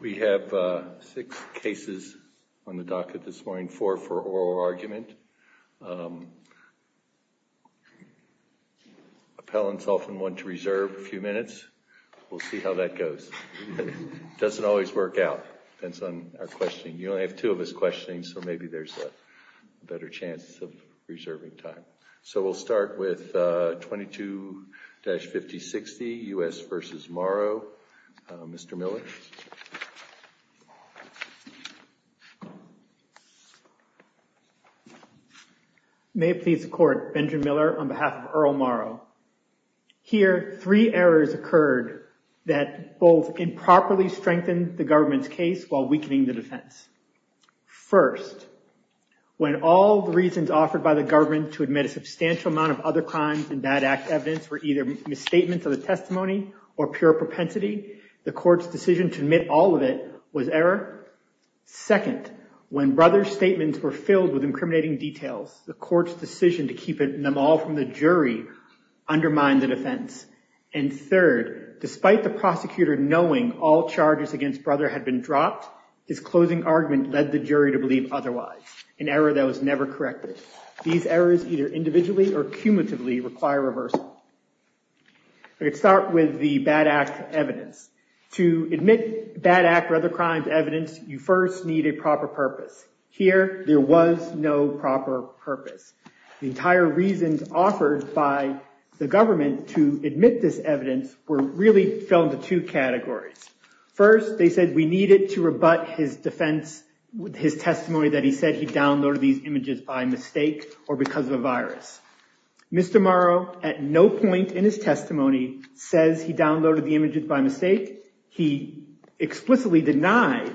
we have six cases on the docket this morning four for oral argument appellants often want to reserve a few minutes we'll see how that goes it doesn't always work out depends on our questioning you only have two of us questioning so maybe there's a better chance of reserving time so we'll start with 22-50 60 u.s. versus morrow mr. Miller may it please the court Benjamin Miller on behalf of Earl Morrow here three errors occurred that both improperly strengthened the government's case while weakening the defense first when all the reasons offered by the government to admit a substantial amount of other crimes and bad act evidence were either misstatements of the testimony or pure propensity the court's decision to admit all of it was error second when brother's statements were filled with incriminating details the court's decision to keep it in them all from the jury undermined the defense and third despite the prosecutor knowing all charges against brother had been dropped his closing argument led the jury to believe otherwise an error that was individually or cumulatively require reversal I could start with the bad act evidence to admit bad act or other crimes evidence you first need a proper purpose here there was no proper purpose the entire reasons offered by the government to admit this evidence were really fell into two categories first they said we needed to rebut his defense with his testimony that he said he Mr. Morrow at no point in his testimony says he downloaded the images by mistake he explicitly denied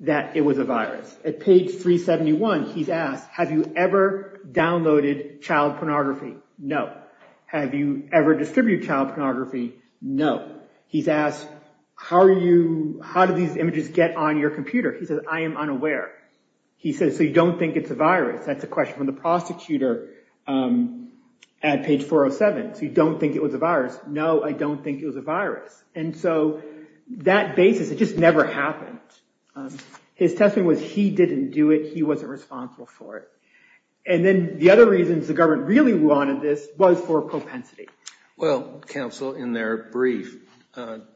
that it was a virus at page 371 he's asked have you ever downloaded child pornography no have you ever distributed child pornography no he's asked how are you how did these images get on your computer he said I am unaware he says so you don't think it's a virus that's a question from the at page 407 you don't think it was a virus no I don't think it was a virus and so that basis it just never happened his testimony was he didn't do it he wasn't responsible for it and then the other reasons the government really wanted this was for propensity well counsel in their brief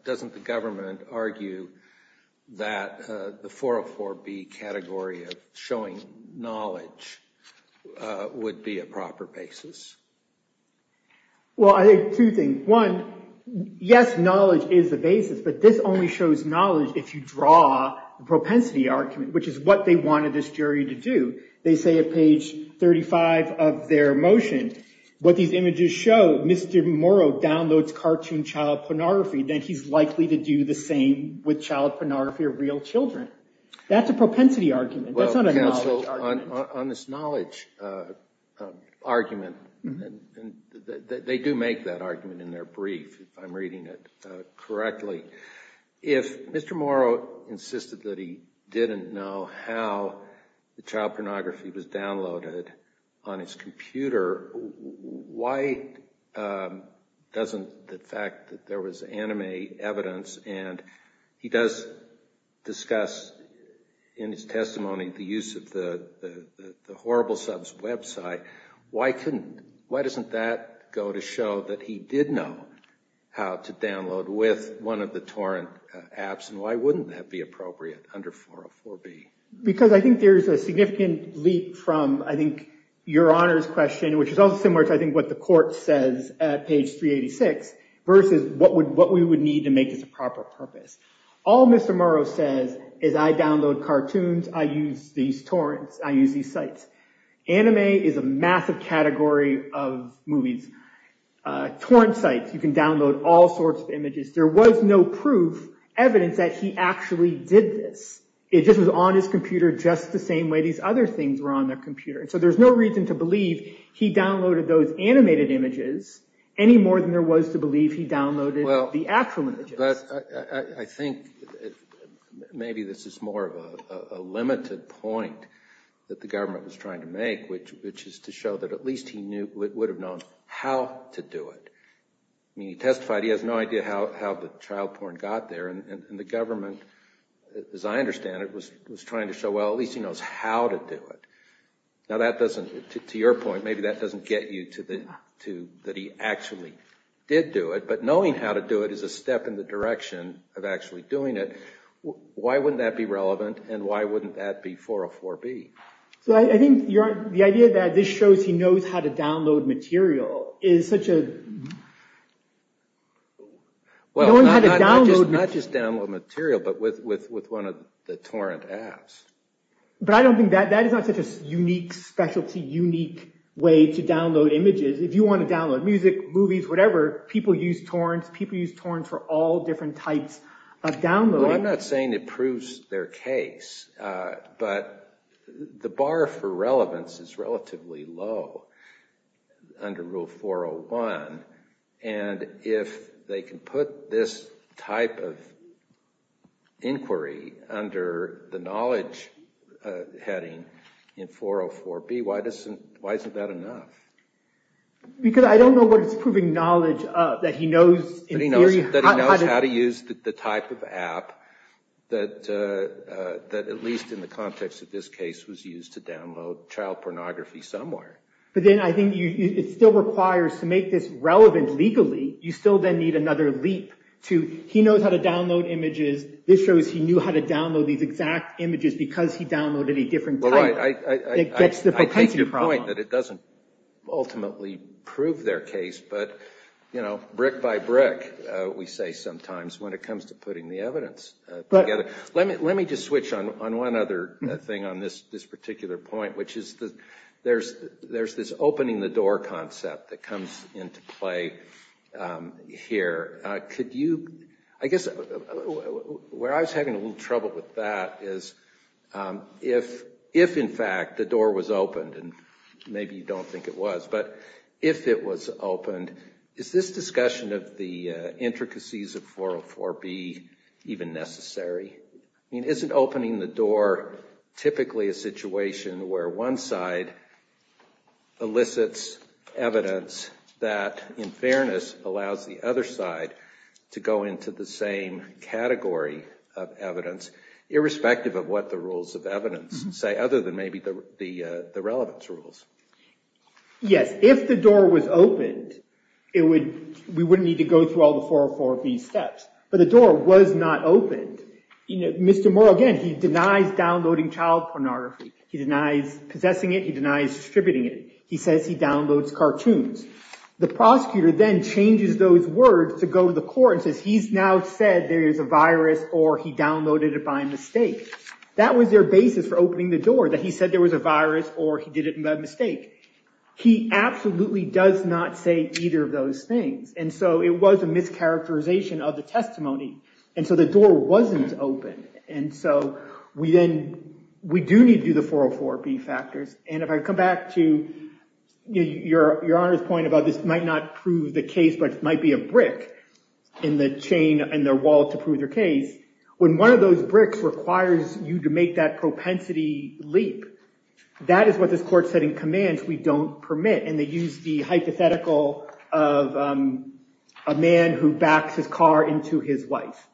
doesn't the government argue that the 404 be category of showing knowledge would be a proper basis well I think two things one yes knowledge is the basis but this only shows knowledge if you draw the propensity argument which is what they wanted this jury to do they say at page 35 of their motion what these images show mr. Morrow downloads cartoon child pornography then he's likely to do the same with child pornography of real children that's a propensity argument on this knowledge argument and they do make that argument in their brief I'm reading it correctly if mr. Morrow insisted that he didn't know how the child pornography was downloaded on his computer why doesn't the fact that there was anime evidence and he does discuss in his testimony the use of the horrible subs website why couldn't why doesn't that go to show that he did know how to download with one of the torrent apps and why wouldn't that be appropriate under 404 B because I think there's a significant leap from I think your honors question which is also similar to I think what the court says at page 386 versus what would what we would need to make this a proper purpose all mr. Morrow says is I download cartoons I use these torrents I use these sites anime is a massive category of movies torrent sites you can download all sorts of images there was no proof evidence that he actually did this it just was on his computer just the same way these other things were on their computer so there's no reason to believe he downloaded those animated images any more than there was to believe he downloaded well the actual images I think maybe this is more of a limited point that the government was trying to make which which is to show that at least he knew it would have known how to do it I mean he testified he has no idea how the child porn got there and the government as I understand it was was trying to show well at least he knows how to do it now that doesn't to your point maybe that doesn't get you to the to that he actually did do it but knowing how to do it is a step in the direction of actually doing it why wouldn't that be relevant and why wouldn't that be for a 4b so I think you're the idea that this shows he knows how to download material is such a well not just download material but with with with one of the torrent apps but I don't think that that is not such a unique specialty unique way to download images if you want to download music movies whatever people use torrents people use torrents for all different types of download I'm not saying it proves their case but the bar for relevance is relatively low under rule 401 and if they can put this type of inquiry under the knowledge heading 404 be why doesn't why isn't that enough because I don't know what it's proving knowledge that he knows how to use the type of app that that at least in the context of this case was used to download child pornography somewhere but then I think you still requires to make this relevant legally you still then need another leap to he knows how to download images this shows he knew how to download these exact images because he downloaded a different point that it doesn't ultimately prove their case but you know brick by brick we say sometimes when it comes to putting the evidence but let me let me just switch on on one other thing on this this particular point which is that there's there's this opening the door concept that comes into play here could you I guess where I was having a little trouble with that is if if in fact the door was opened and maybe you don't think it was but if it was opened is this discussion of the intricacies of 404 be even necessary I mean isn't opening the door typically a situation where one side elicits evidence that in fairness allows the other side to go into the same category of evidence irrespective of what the rules of evidence say other than maybe the relevance rules yes if the door was opened it would we would need to go through all the 404 of these steps but the door was not open you know Mr. Moore again he denies downloading child pornography he denies possessing it he denies distributing it he says he to go to the court and says he's now said there is a virus or he downloaded it by mistake that was their basis for opening the door that he said there was a virus or he did it by mistake he absolutely does not say either of those things and so it was a mischaracterization of the testimony and so the door wasn't open and so we then we do need to do the 404 B factors and if I come back to your your honor's point about this might not prove the case but it might be a brick in the chain and their wall to prove their case when one of those bricks requires you to make that propensity leap that is what this court said in command we don't permit and they use the hypothetical of a man who backs his car into his wife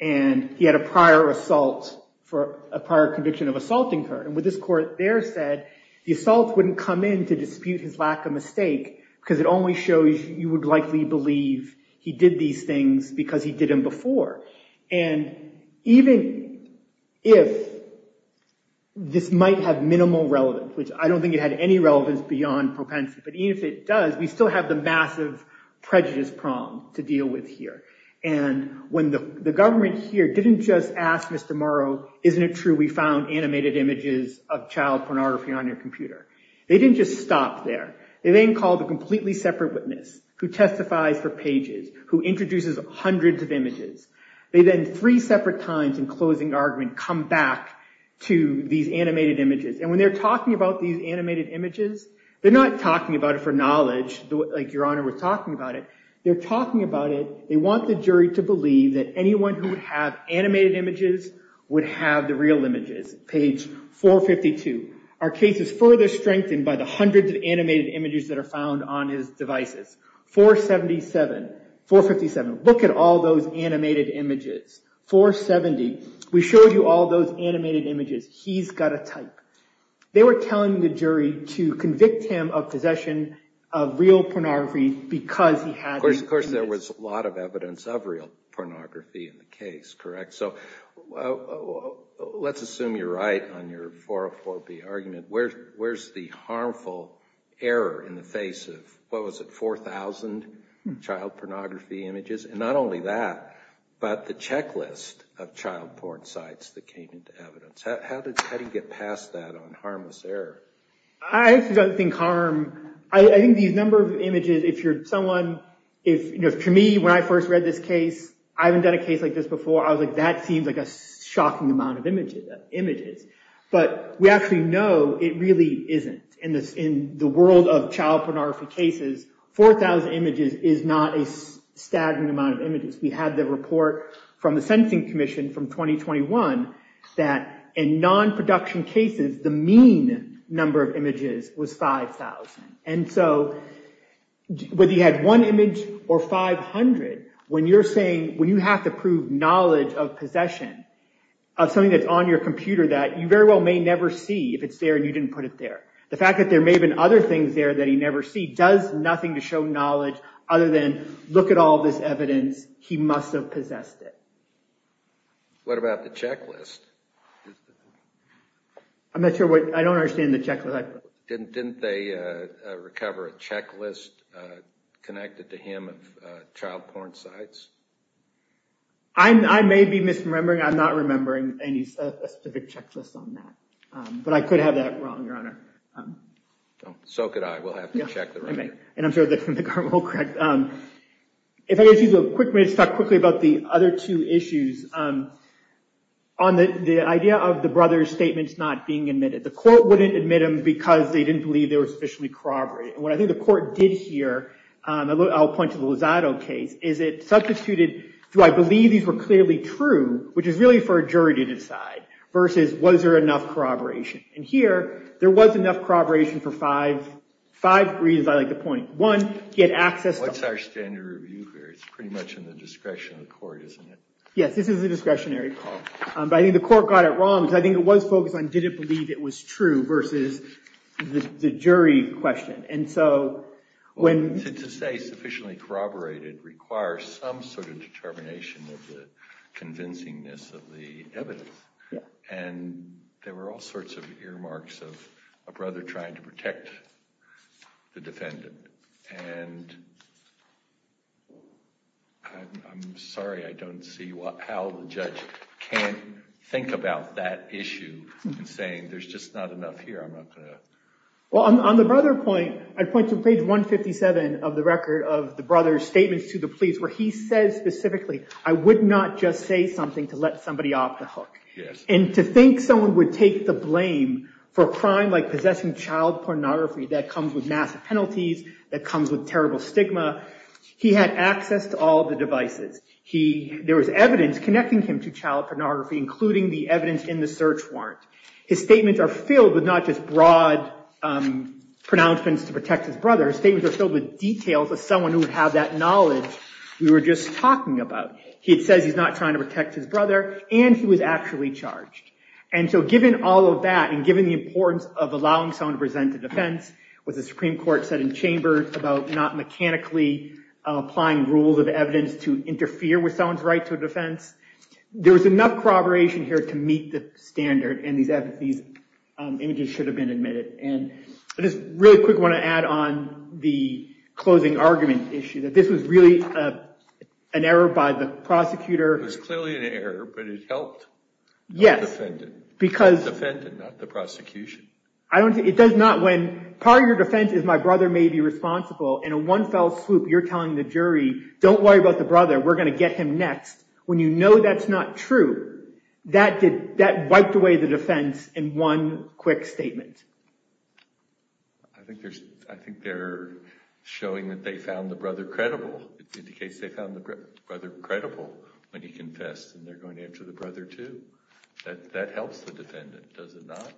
and he had a prior assault for a prior conviction of assaulting her and with this court there said the assault wouldn't come in to dispute his lack of mistake because it only shows you would likely believe he did these things because he did him before and even if this might have minimal relevance which I don't think it had any relevance beyond propensity but even if it does we still have the massive prejudice prong to deal with here and when the government here didn't just ask mr. Morrow isn't it true we found animated images of child pornography on your computer they didn't just stop there they then called a completely separate witness who testifies for pages who introduces hundreds of images they then three separate times in closing argument come back to these animated images and when they're talking about these animated images they're not talking about it for knowledge like your honor was talking about it they're talking about it they want the jury to believe that anyone who would have animated images would have the real images page 452 our case is further strengthened by the hundreds of animated images that are found on his devices 477 457 look at all those animated images 470 we showed you all those animated images he's got a type they were telling the jury to convict him of possession of real pornography because he has of course there was a lot of evidence of real pornography in the case correct so let's assume you're right on your argument where's the harmful error in the face of what was it 4,000 child pornography images and not only that but the checklist of child porn sites that came into evidence how did you get past that on harmless error I don't think harm I think these number of images if you're someone if you know to me when I first read this case I haven't done a case like this before I was like that seems like a shocking amount of images images but we actually know it really isn't in this in the world of child pornography cases 4,000 images is not a staggering amount of images we had the report from the Sensing Commission from 2021 that in non-production cases the mean number of images was 5,000 and so whether you had one image or 500 when you're saying when you have to prove knowledge of possession of something that's on your computer that you very well may never see if it's there and you didn't put it there the fact that there may have been other things there that he never see does nothing to show knowledge other than look at all this evidence he must have possessed it what about the checklist I'm not sure what I don't understand the check like didn't they recover a checklist connected to him of child porn sites I'm I may be misremembering I'm not remembering any specific checklist on that but I could have that wrong your honor so could I will have to check the room and I'm sure that from the car will correct if I get you the equipment stuck quickly about the other two issues on the idea of the brothers statements not being admitted the court wouldn't admit him because they didn't believe there was officially corroborate and what I think the court did here I'll point to the Lozado case is it substituted do I believe these were clearly true which is really for a jury to decide versus was there enough corroboration and here there was enough corroboration for five five reasons I like the point one get access what's our standard review here it's pretty much in the discretion of the court isn't it yes this is a discretionary call but I think the court got it wrong I think it was focused on did it believe it was true versus the jury question and so when to say sufficiently corroborated requires some sort of determination of the convincingness of the evidence and there were all sorts of earmarks of a brother trying to protect the defendant and I'm sorry I don't see what how the issue well I'm on the brother point I'd point to page 157 of the record of the brothers statements to the police where he says specifically I would not just say something to let somebody off the hook yes and to think someone would take the blame for a crime like possessing child pornography that comes with massive penalties that comes with terrible stigma he had access to all the devices he there was evidence connecting him to child pornography including the evidence in the search warrant his statements are filled with not just broad pronouncements to protect his brother's statements are filled with details of someone who would have that knowledge we were just talking about he says he's not trying to protect his brother and he was actually charged and so given all of that and given the importance of allowing someone to present a defense with the Supreme Court said in chamber about not mechanically applying rules of evidence to interfere with someone's right to a defense there was enough corroboration here to meet the standard and these efficies images should have been admitted and I just really quick want to add on the closing argument issue that this was really an error by the prosecutor was clearly an error but it helped yes offended because offended not the prosecution I don't think it does not when part of your defense is my brother may be responsible and a one fell swoop you're telling the jury don't worry about the brother we're gonna get him next when you know that's not true that did that wiped away the defense in one quick statement I think there's I think they're showing that they found the brother credible indicates they found the brother credible when he confessed and they're going to enter the brother to that that helps the defendant does it not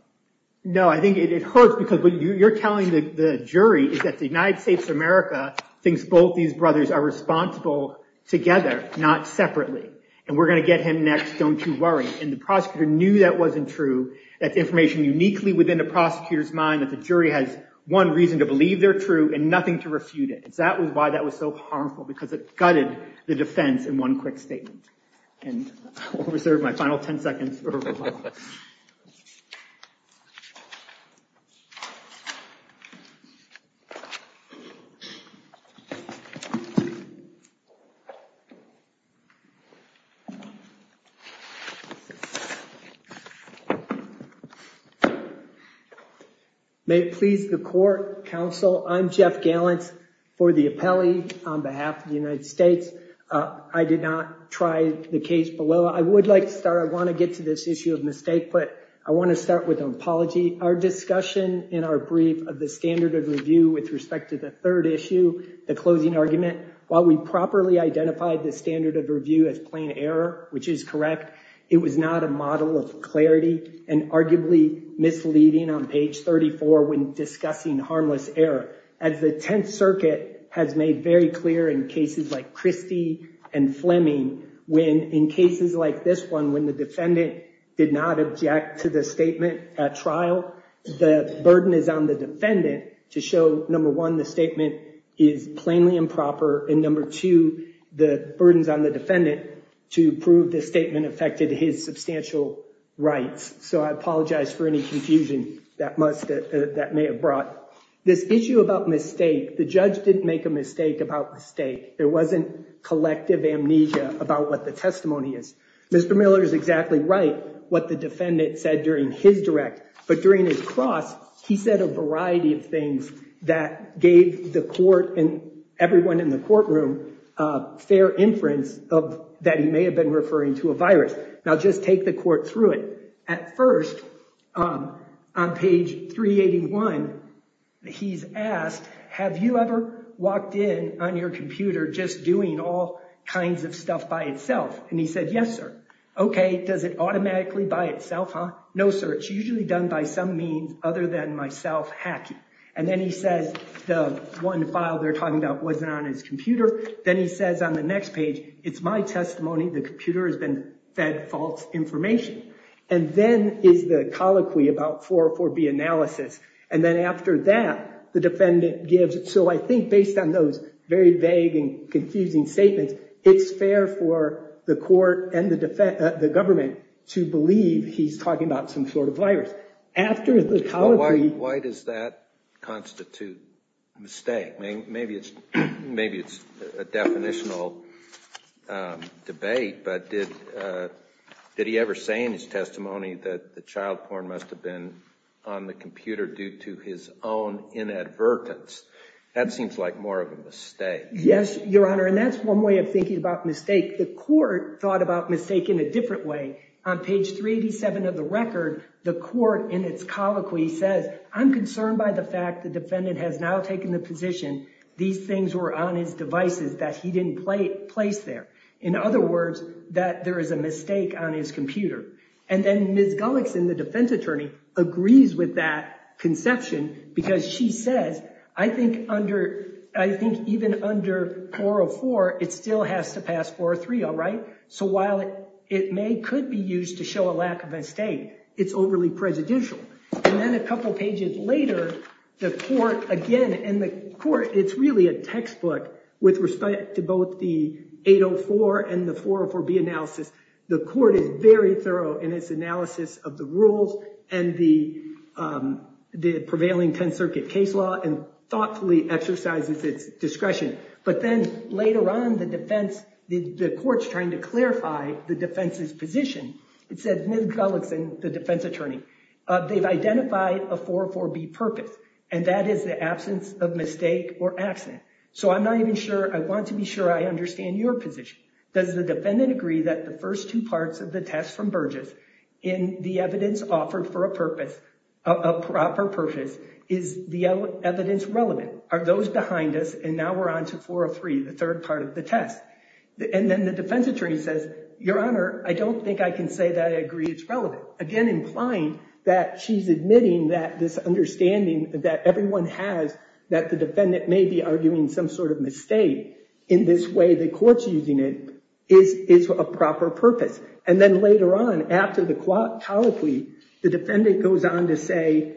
know I think it hurts because when you're telling the jury is that the United States of America thinks both these brothers are responsible together not separately and we're going to get him next don't you worry and the prosecutor knew that wasn't true that information uniquely within the prosecutors mind that the jury has one reason to believe they're true and nothing to refute it that was why that was so harmful because it gutted the may please the court counsel I'm Jeff gallants for the appellee on behalf of the United States I did not try the case below I would like to start I want to get to this issue of mistake but I want to start with an apology our discussion in our brief of the standard of review with respect to the third issue the properly identified the standard of review as plain error which is correct it was not a model of clarity and arguably misleading on page 34 when discussing harmless error as the Tenth Circuit has made very clear in cases like Christie and Fleming when in cases like this one when the defendant did not object to the statement at trial the burden is on the defendant to show number one the statement is plainly improper and number two the burdens on the defendant to prove the statement affected his substantial rights so I apologize for any confusion that must that may have brought this issue about mistake the judge didn't make a mistake about mistake there wasn't collective amnesia about what the testimony is mr. Miller is exactly right what the defendant said during his direct but during his cross he said a variety of things that gave the court and everyone in the courtroom fair inference of that he may have been referring to a virus now just take the court through it at first on page 381 he's asked have you ever walked in on your computer just doing all kinds of stuff by itself and he said yes sir okay does it automatically by itself huh no sir it's usually done by some means other than myself hacking and then he says the one file they're talking about wasn't on his computer then he says on the next page it's my testimony the computer has been fed false information and then is the colloquy about 404 B analysis and then after that the defendant gives it so I think based on those very vague and confusing statements it's fair for the court and the defense the government to why does that constitute mistake maybe it's maybe it's a definitional debate but did did he ever say in his testimony that the child porn must have been on the computer due to his own inadvertence that seems like more of a mistake yes your honor and that's one way of thinking about mistake the court thought about mistake in a different way on page 387 of the record the court in its colloquy says I'm concerned by the fact the defendant has now taken the position these things were on his devices that he didn't play place there in other words that there is a mistake on his computer and then Ms. Gullickson the defense attorney agrees with that conception because she says I think under I think even under 404 it still has to pass 403 all right so while it may could be used to show a lack of a state it's overly presidential and then a couple pages later the court again and the court it's really a textbook with respect to both the 804 and the 404 B analysis the court is very thorough in its analysis of the rules and the the prevailing 10th Circuit case law and thoughtfully exercises its discretion but then later on the defense the courts trying to it said Ms. Gullickson the defense attorney they've identified a 404 B purpose and that is the absence of mistake or accident so I'm not even sure I want to be sure I understand your position does the defendant agree that the first two parts of the test from Burgess in the evidence offered for a purpose a proper purpose is the evidence relevant are those behind us and now we're on to 403 the third part of the test and then the defense attorney says your honor I don't think I can say that I agree it's relevant again implying that she's admitting that this understanding that everyone has that the defendant may be arguing some sort of mistake in this way the courts using it is is a proper purpose and then later on after the clock telepathy the defendant goes on to say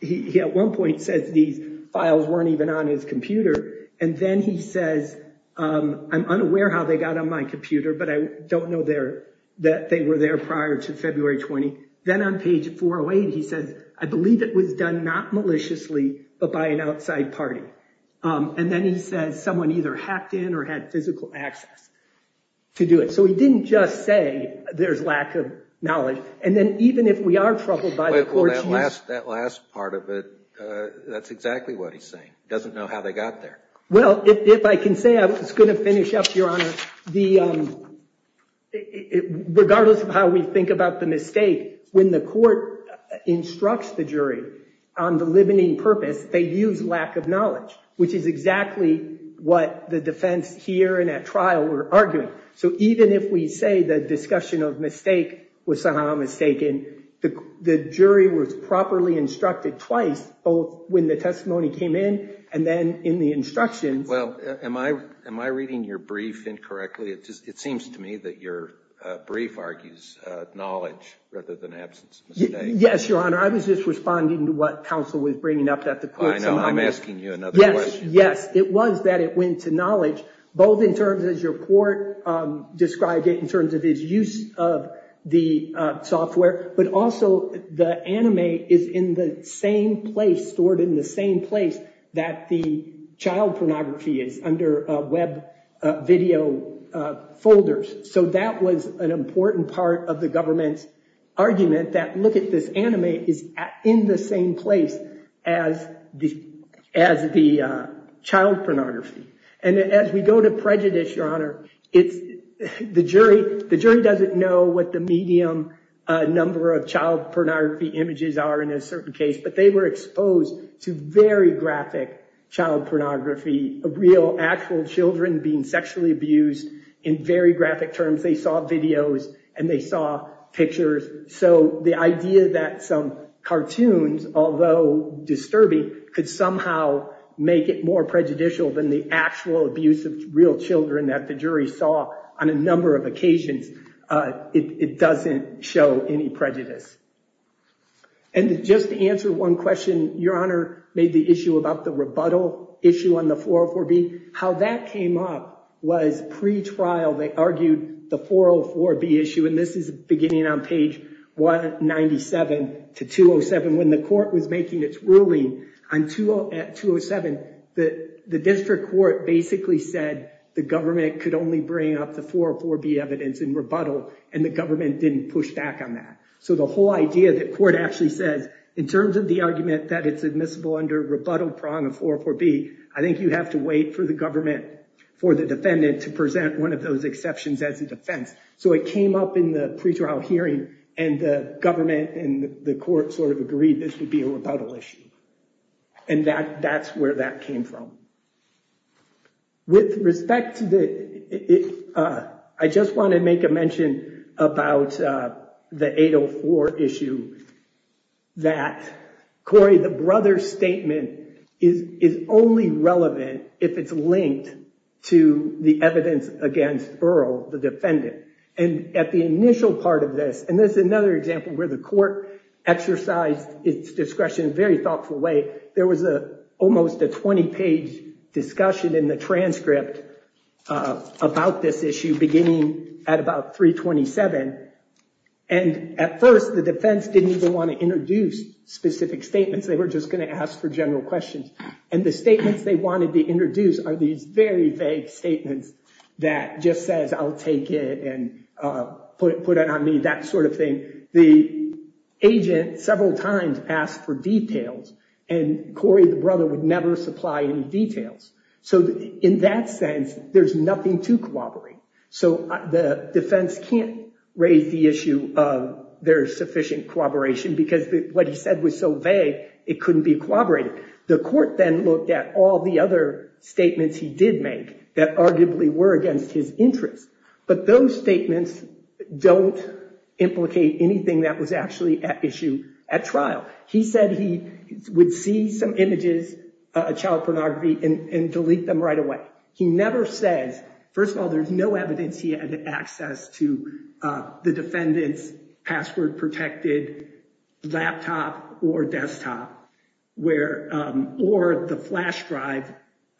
he at one point says these files weren't even on his computer and then he says I'm unaware how they got on my computer but I don't know there that they were there prior to February 20 then on page 408 he says I believe it was done not maliciously but by an outside party and then he says someone either hacked in or had physical access to do it so he didn't just say there's lack of knowledge and then even if we are troubled by the last that last part of it that's exactly what he's saying doesn't know how they got there well if I can say I was going to finish up your honor the regardless of how we think about the mistake when the court instructs the jury on the limiting purpose they use lack of knowledge which is exactly what the defense here and at trial we're arguing so even if we say the discussion of mistake was somehow mistaken the jury was properly instructed twice both when the testimony came in and then in the instructions well am I am I reading your brief incorrectly it just it seems to me that your brief argues knowledge rather than absence yes your honor I was just responding to what counsel was bringing up that the I know I'm asking you another yes yes it was that it went to knowledge both in terms as your court described it in terms of his use of the software but also the anime is in the same place stored in the same place that the child pornography is under web video folders so that was an important part of the government's argument that look at this anime is in the same place as the as the child pornography and as we go to prejudice your honor it's the jury the medium number of child pornography images are in a certain case but they were exposed to very graphic child pornography a real actual children being sexually abused in very graphic terms they saw videos and they saw pictures so the idea that some cartoons although disturbing could somehow make it more prejudicial than the actual abuse of real children that the jury saw on a doesn't show any prejudice and just to answer one question your honor made the issue about the rebuttal issue on the floor for B how that came up was pre trial they argued the 404 B issue and this is beginning on page 197 to 207 when the court was making its ruling on to at 207 that the district court basically said the government could only bring up the 404 B evidence in rebuttal and the government didn't push back on that so the whole idea that court actually says in terms of the argument that it's admissible under rebuttal prong of 404 B I think you have to wait for the government for the defendant to present one of those exceptions as a defense so it came up in the pre trial hearing and the government and the court sort of agreed this would be a rebuttal issue and that that's where that came from with respect to the if I just want to make a mention about the 804 issue that Cory the brother statement is is only relevant if it's linked to the evidence against Earl the defendant and at the initial part of this and there's another example where the court exercised its discretion very thoughtful way there was a almost a 20 page discussion in the transcript about this issue beginning at about 327 and at first the defense didn't even want to introduce specific statements they were just going to ask for general questions and the statements they wanted to introduce are these very vague statements that just says I'll take it and put it put it on me that sort of thing the agent several times asked for so in that sense there's nothing to cooperate so the defense can't raise the issue of their sufficient cooperation because what he said was so vague it couldn't be corroborated the court then looked at all the other statements he did make that arguably were against his interest but those statements don't implicate anything that was actually at issue at trial he said he would see some and delete them right away he never says first of all there's no evidence he had access to the defendants password protected laptop or desktop where or the flash drive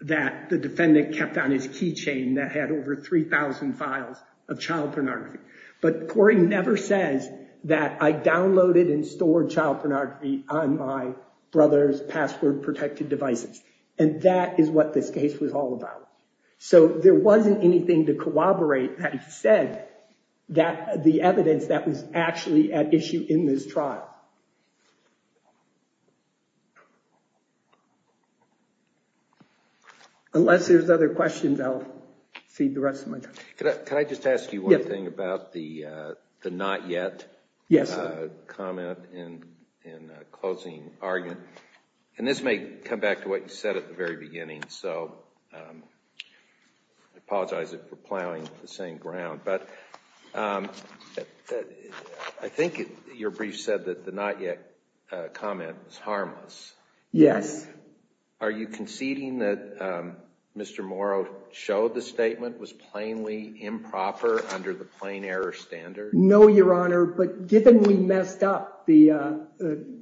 that the defendant kept on his keychain that had over 3,000 files of child pornography but Cory never says that I downloaded and stored child devices and that is what this case was all about so there wasn't anything to corroborate that he said that the evidence that was actually at issue in this trial unless there's other questions I'll feed the rest of my time can I just ask you one thing about the the not yet yes comment in in closing argument and this may come back to what you said at the very beginning so I apologize if we're plowing the same ground but I think your brief said that the not yet comment is harmless yes are you conceding that mr. Morrow showed the statement was plainly improper under the plain error standard no your honor but given we messed up the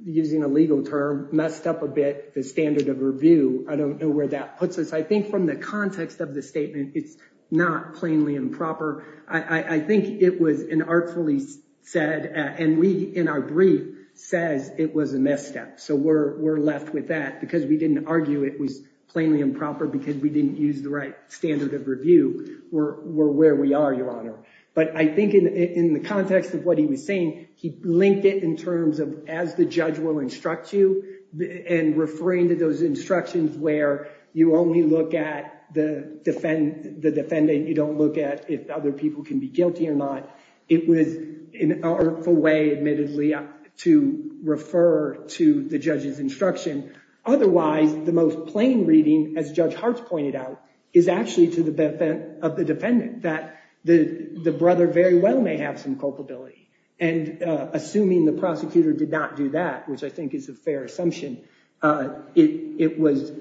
using a legal term messed up a bit the standard of review I don't know where that puts us I think from the context of the statement it's not plainly improper I I think it was an artfully said and we in our brief says it was a misstep so we're we're left with that because we didn't argue it was plainly improper because we didn't use the right standard of review we're where we are your honor but I think in the context of what he was saying he linked it in terms of as the judge will instruct you and referring to those instructions where you only look at the defend the defendant you don't look at if other people can be guilty or not it was an artful way admittedly to refer to the judge's instruction otherwise the most plain reading as Judge Hart pointed out is actually to the benefit of the defendant that the the brother very well may have some culpability and assuming the prosecutor did not do that which I think is a fair assumption it was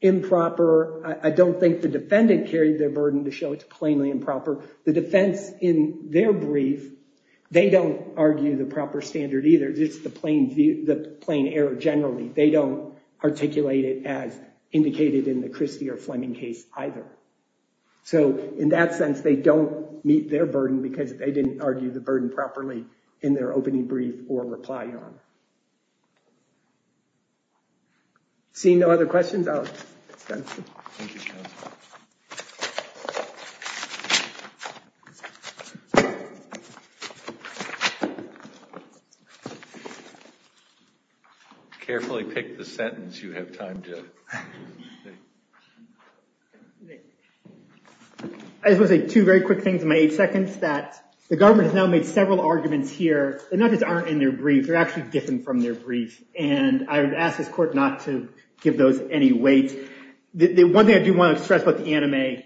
improper I don't think the defendant carried their burden to show it's plainly improper the defense in their brief they don't argue the proper standard either it's the plain view the plain error generally they don't articulate it as indicated in the Christie or Fleming case either so in that sense they don't meet their burden because they didn't argue the burden properly in their opening brief or reply on seeing no other questions carefully pick the sentence you have time to I suppose a two very quick things in my eight seconds that the government has now made several arguments here they're not just aren't in their brief they're actually different from their briefs and I would ask this court not to give those any weight the one thing I do want to stress about the anime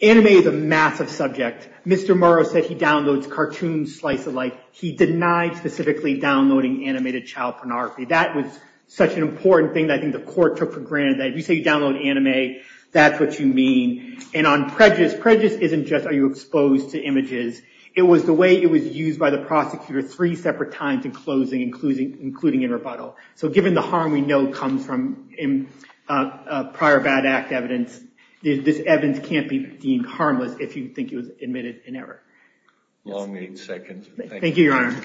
anime is a massive subject mr. Murrow said he downloads cartoon slice of life he denied specifically downloading animated child pornography that was such an important thing that I think the court took for granted that you say you download anime that's what you mean and on prejudice prejudice isn't just are you exposed to images it was the way it was used by the prosecutor three separate times in including including in rebuttal so given the harm we know comes from in prior bad act evidence this evidence can't be deemed harmless if you think it was admitted in error long eight seconds thank you your honor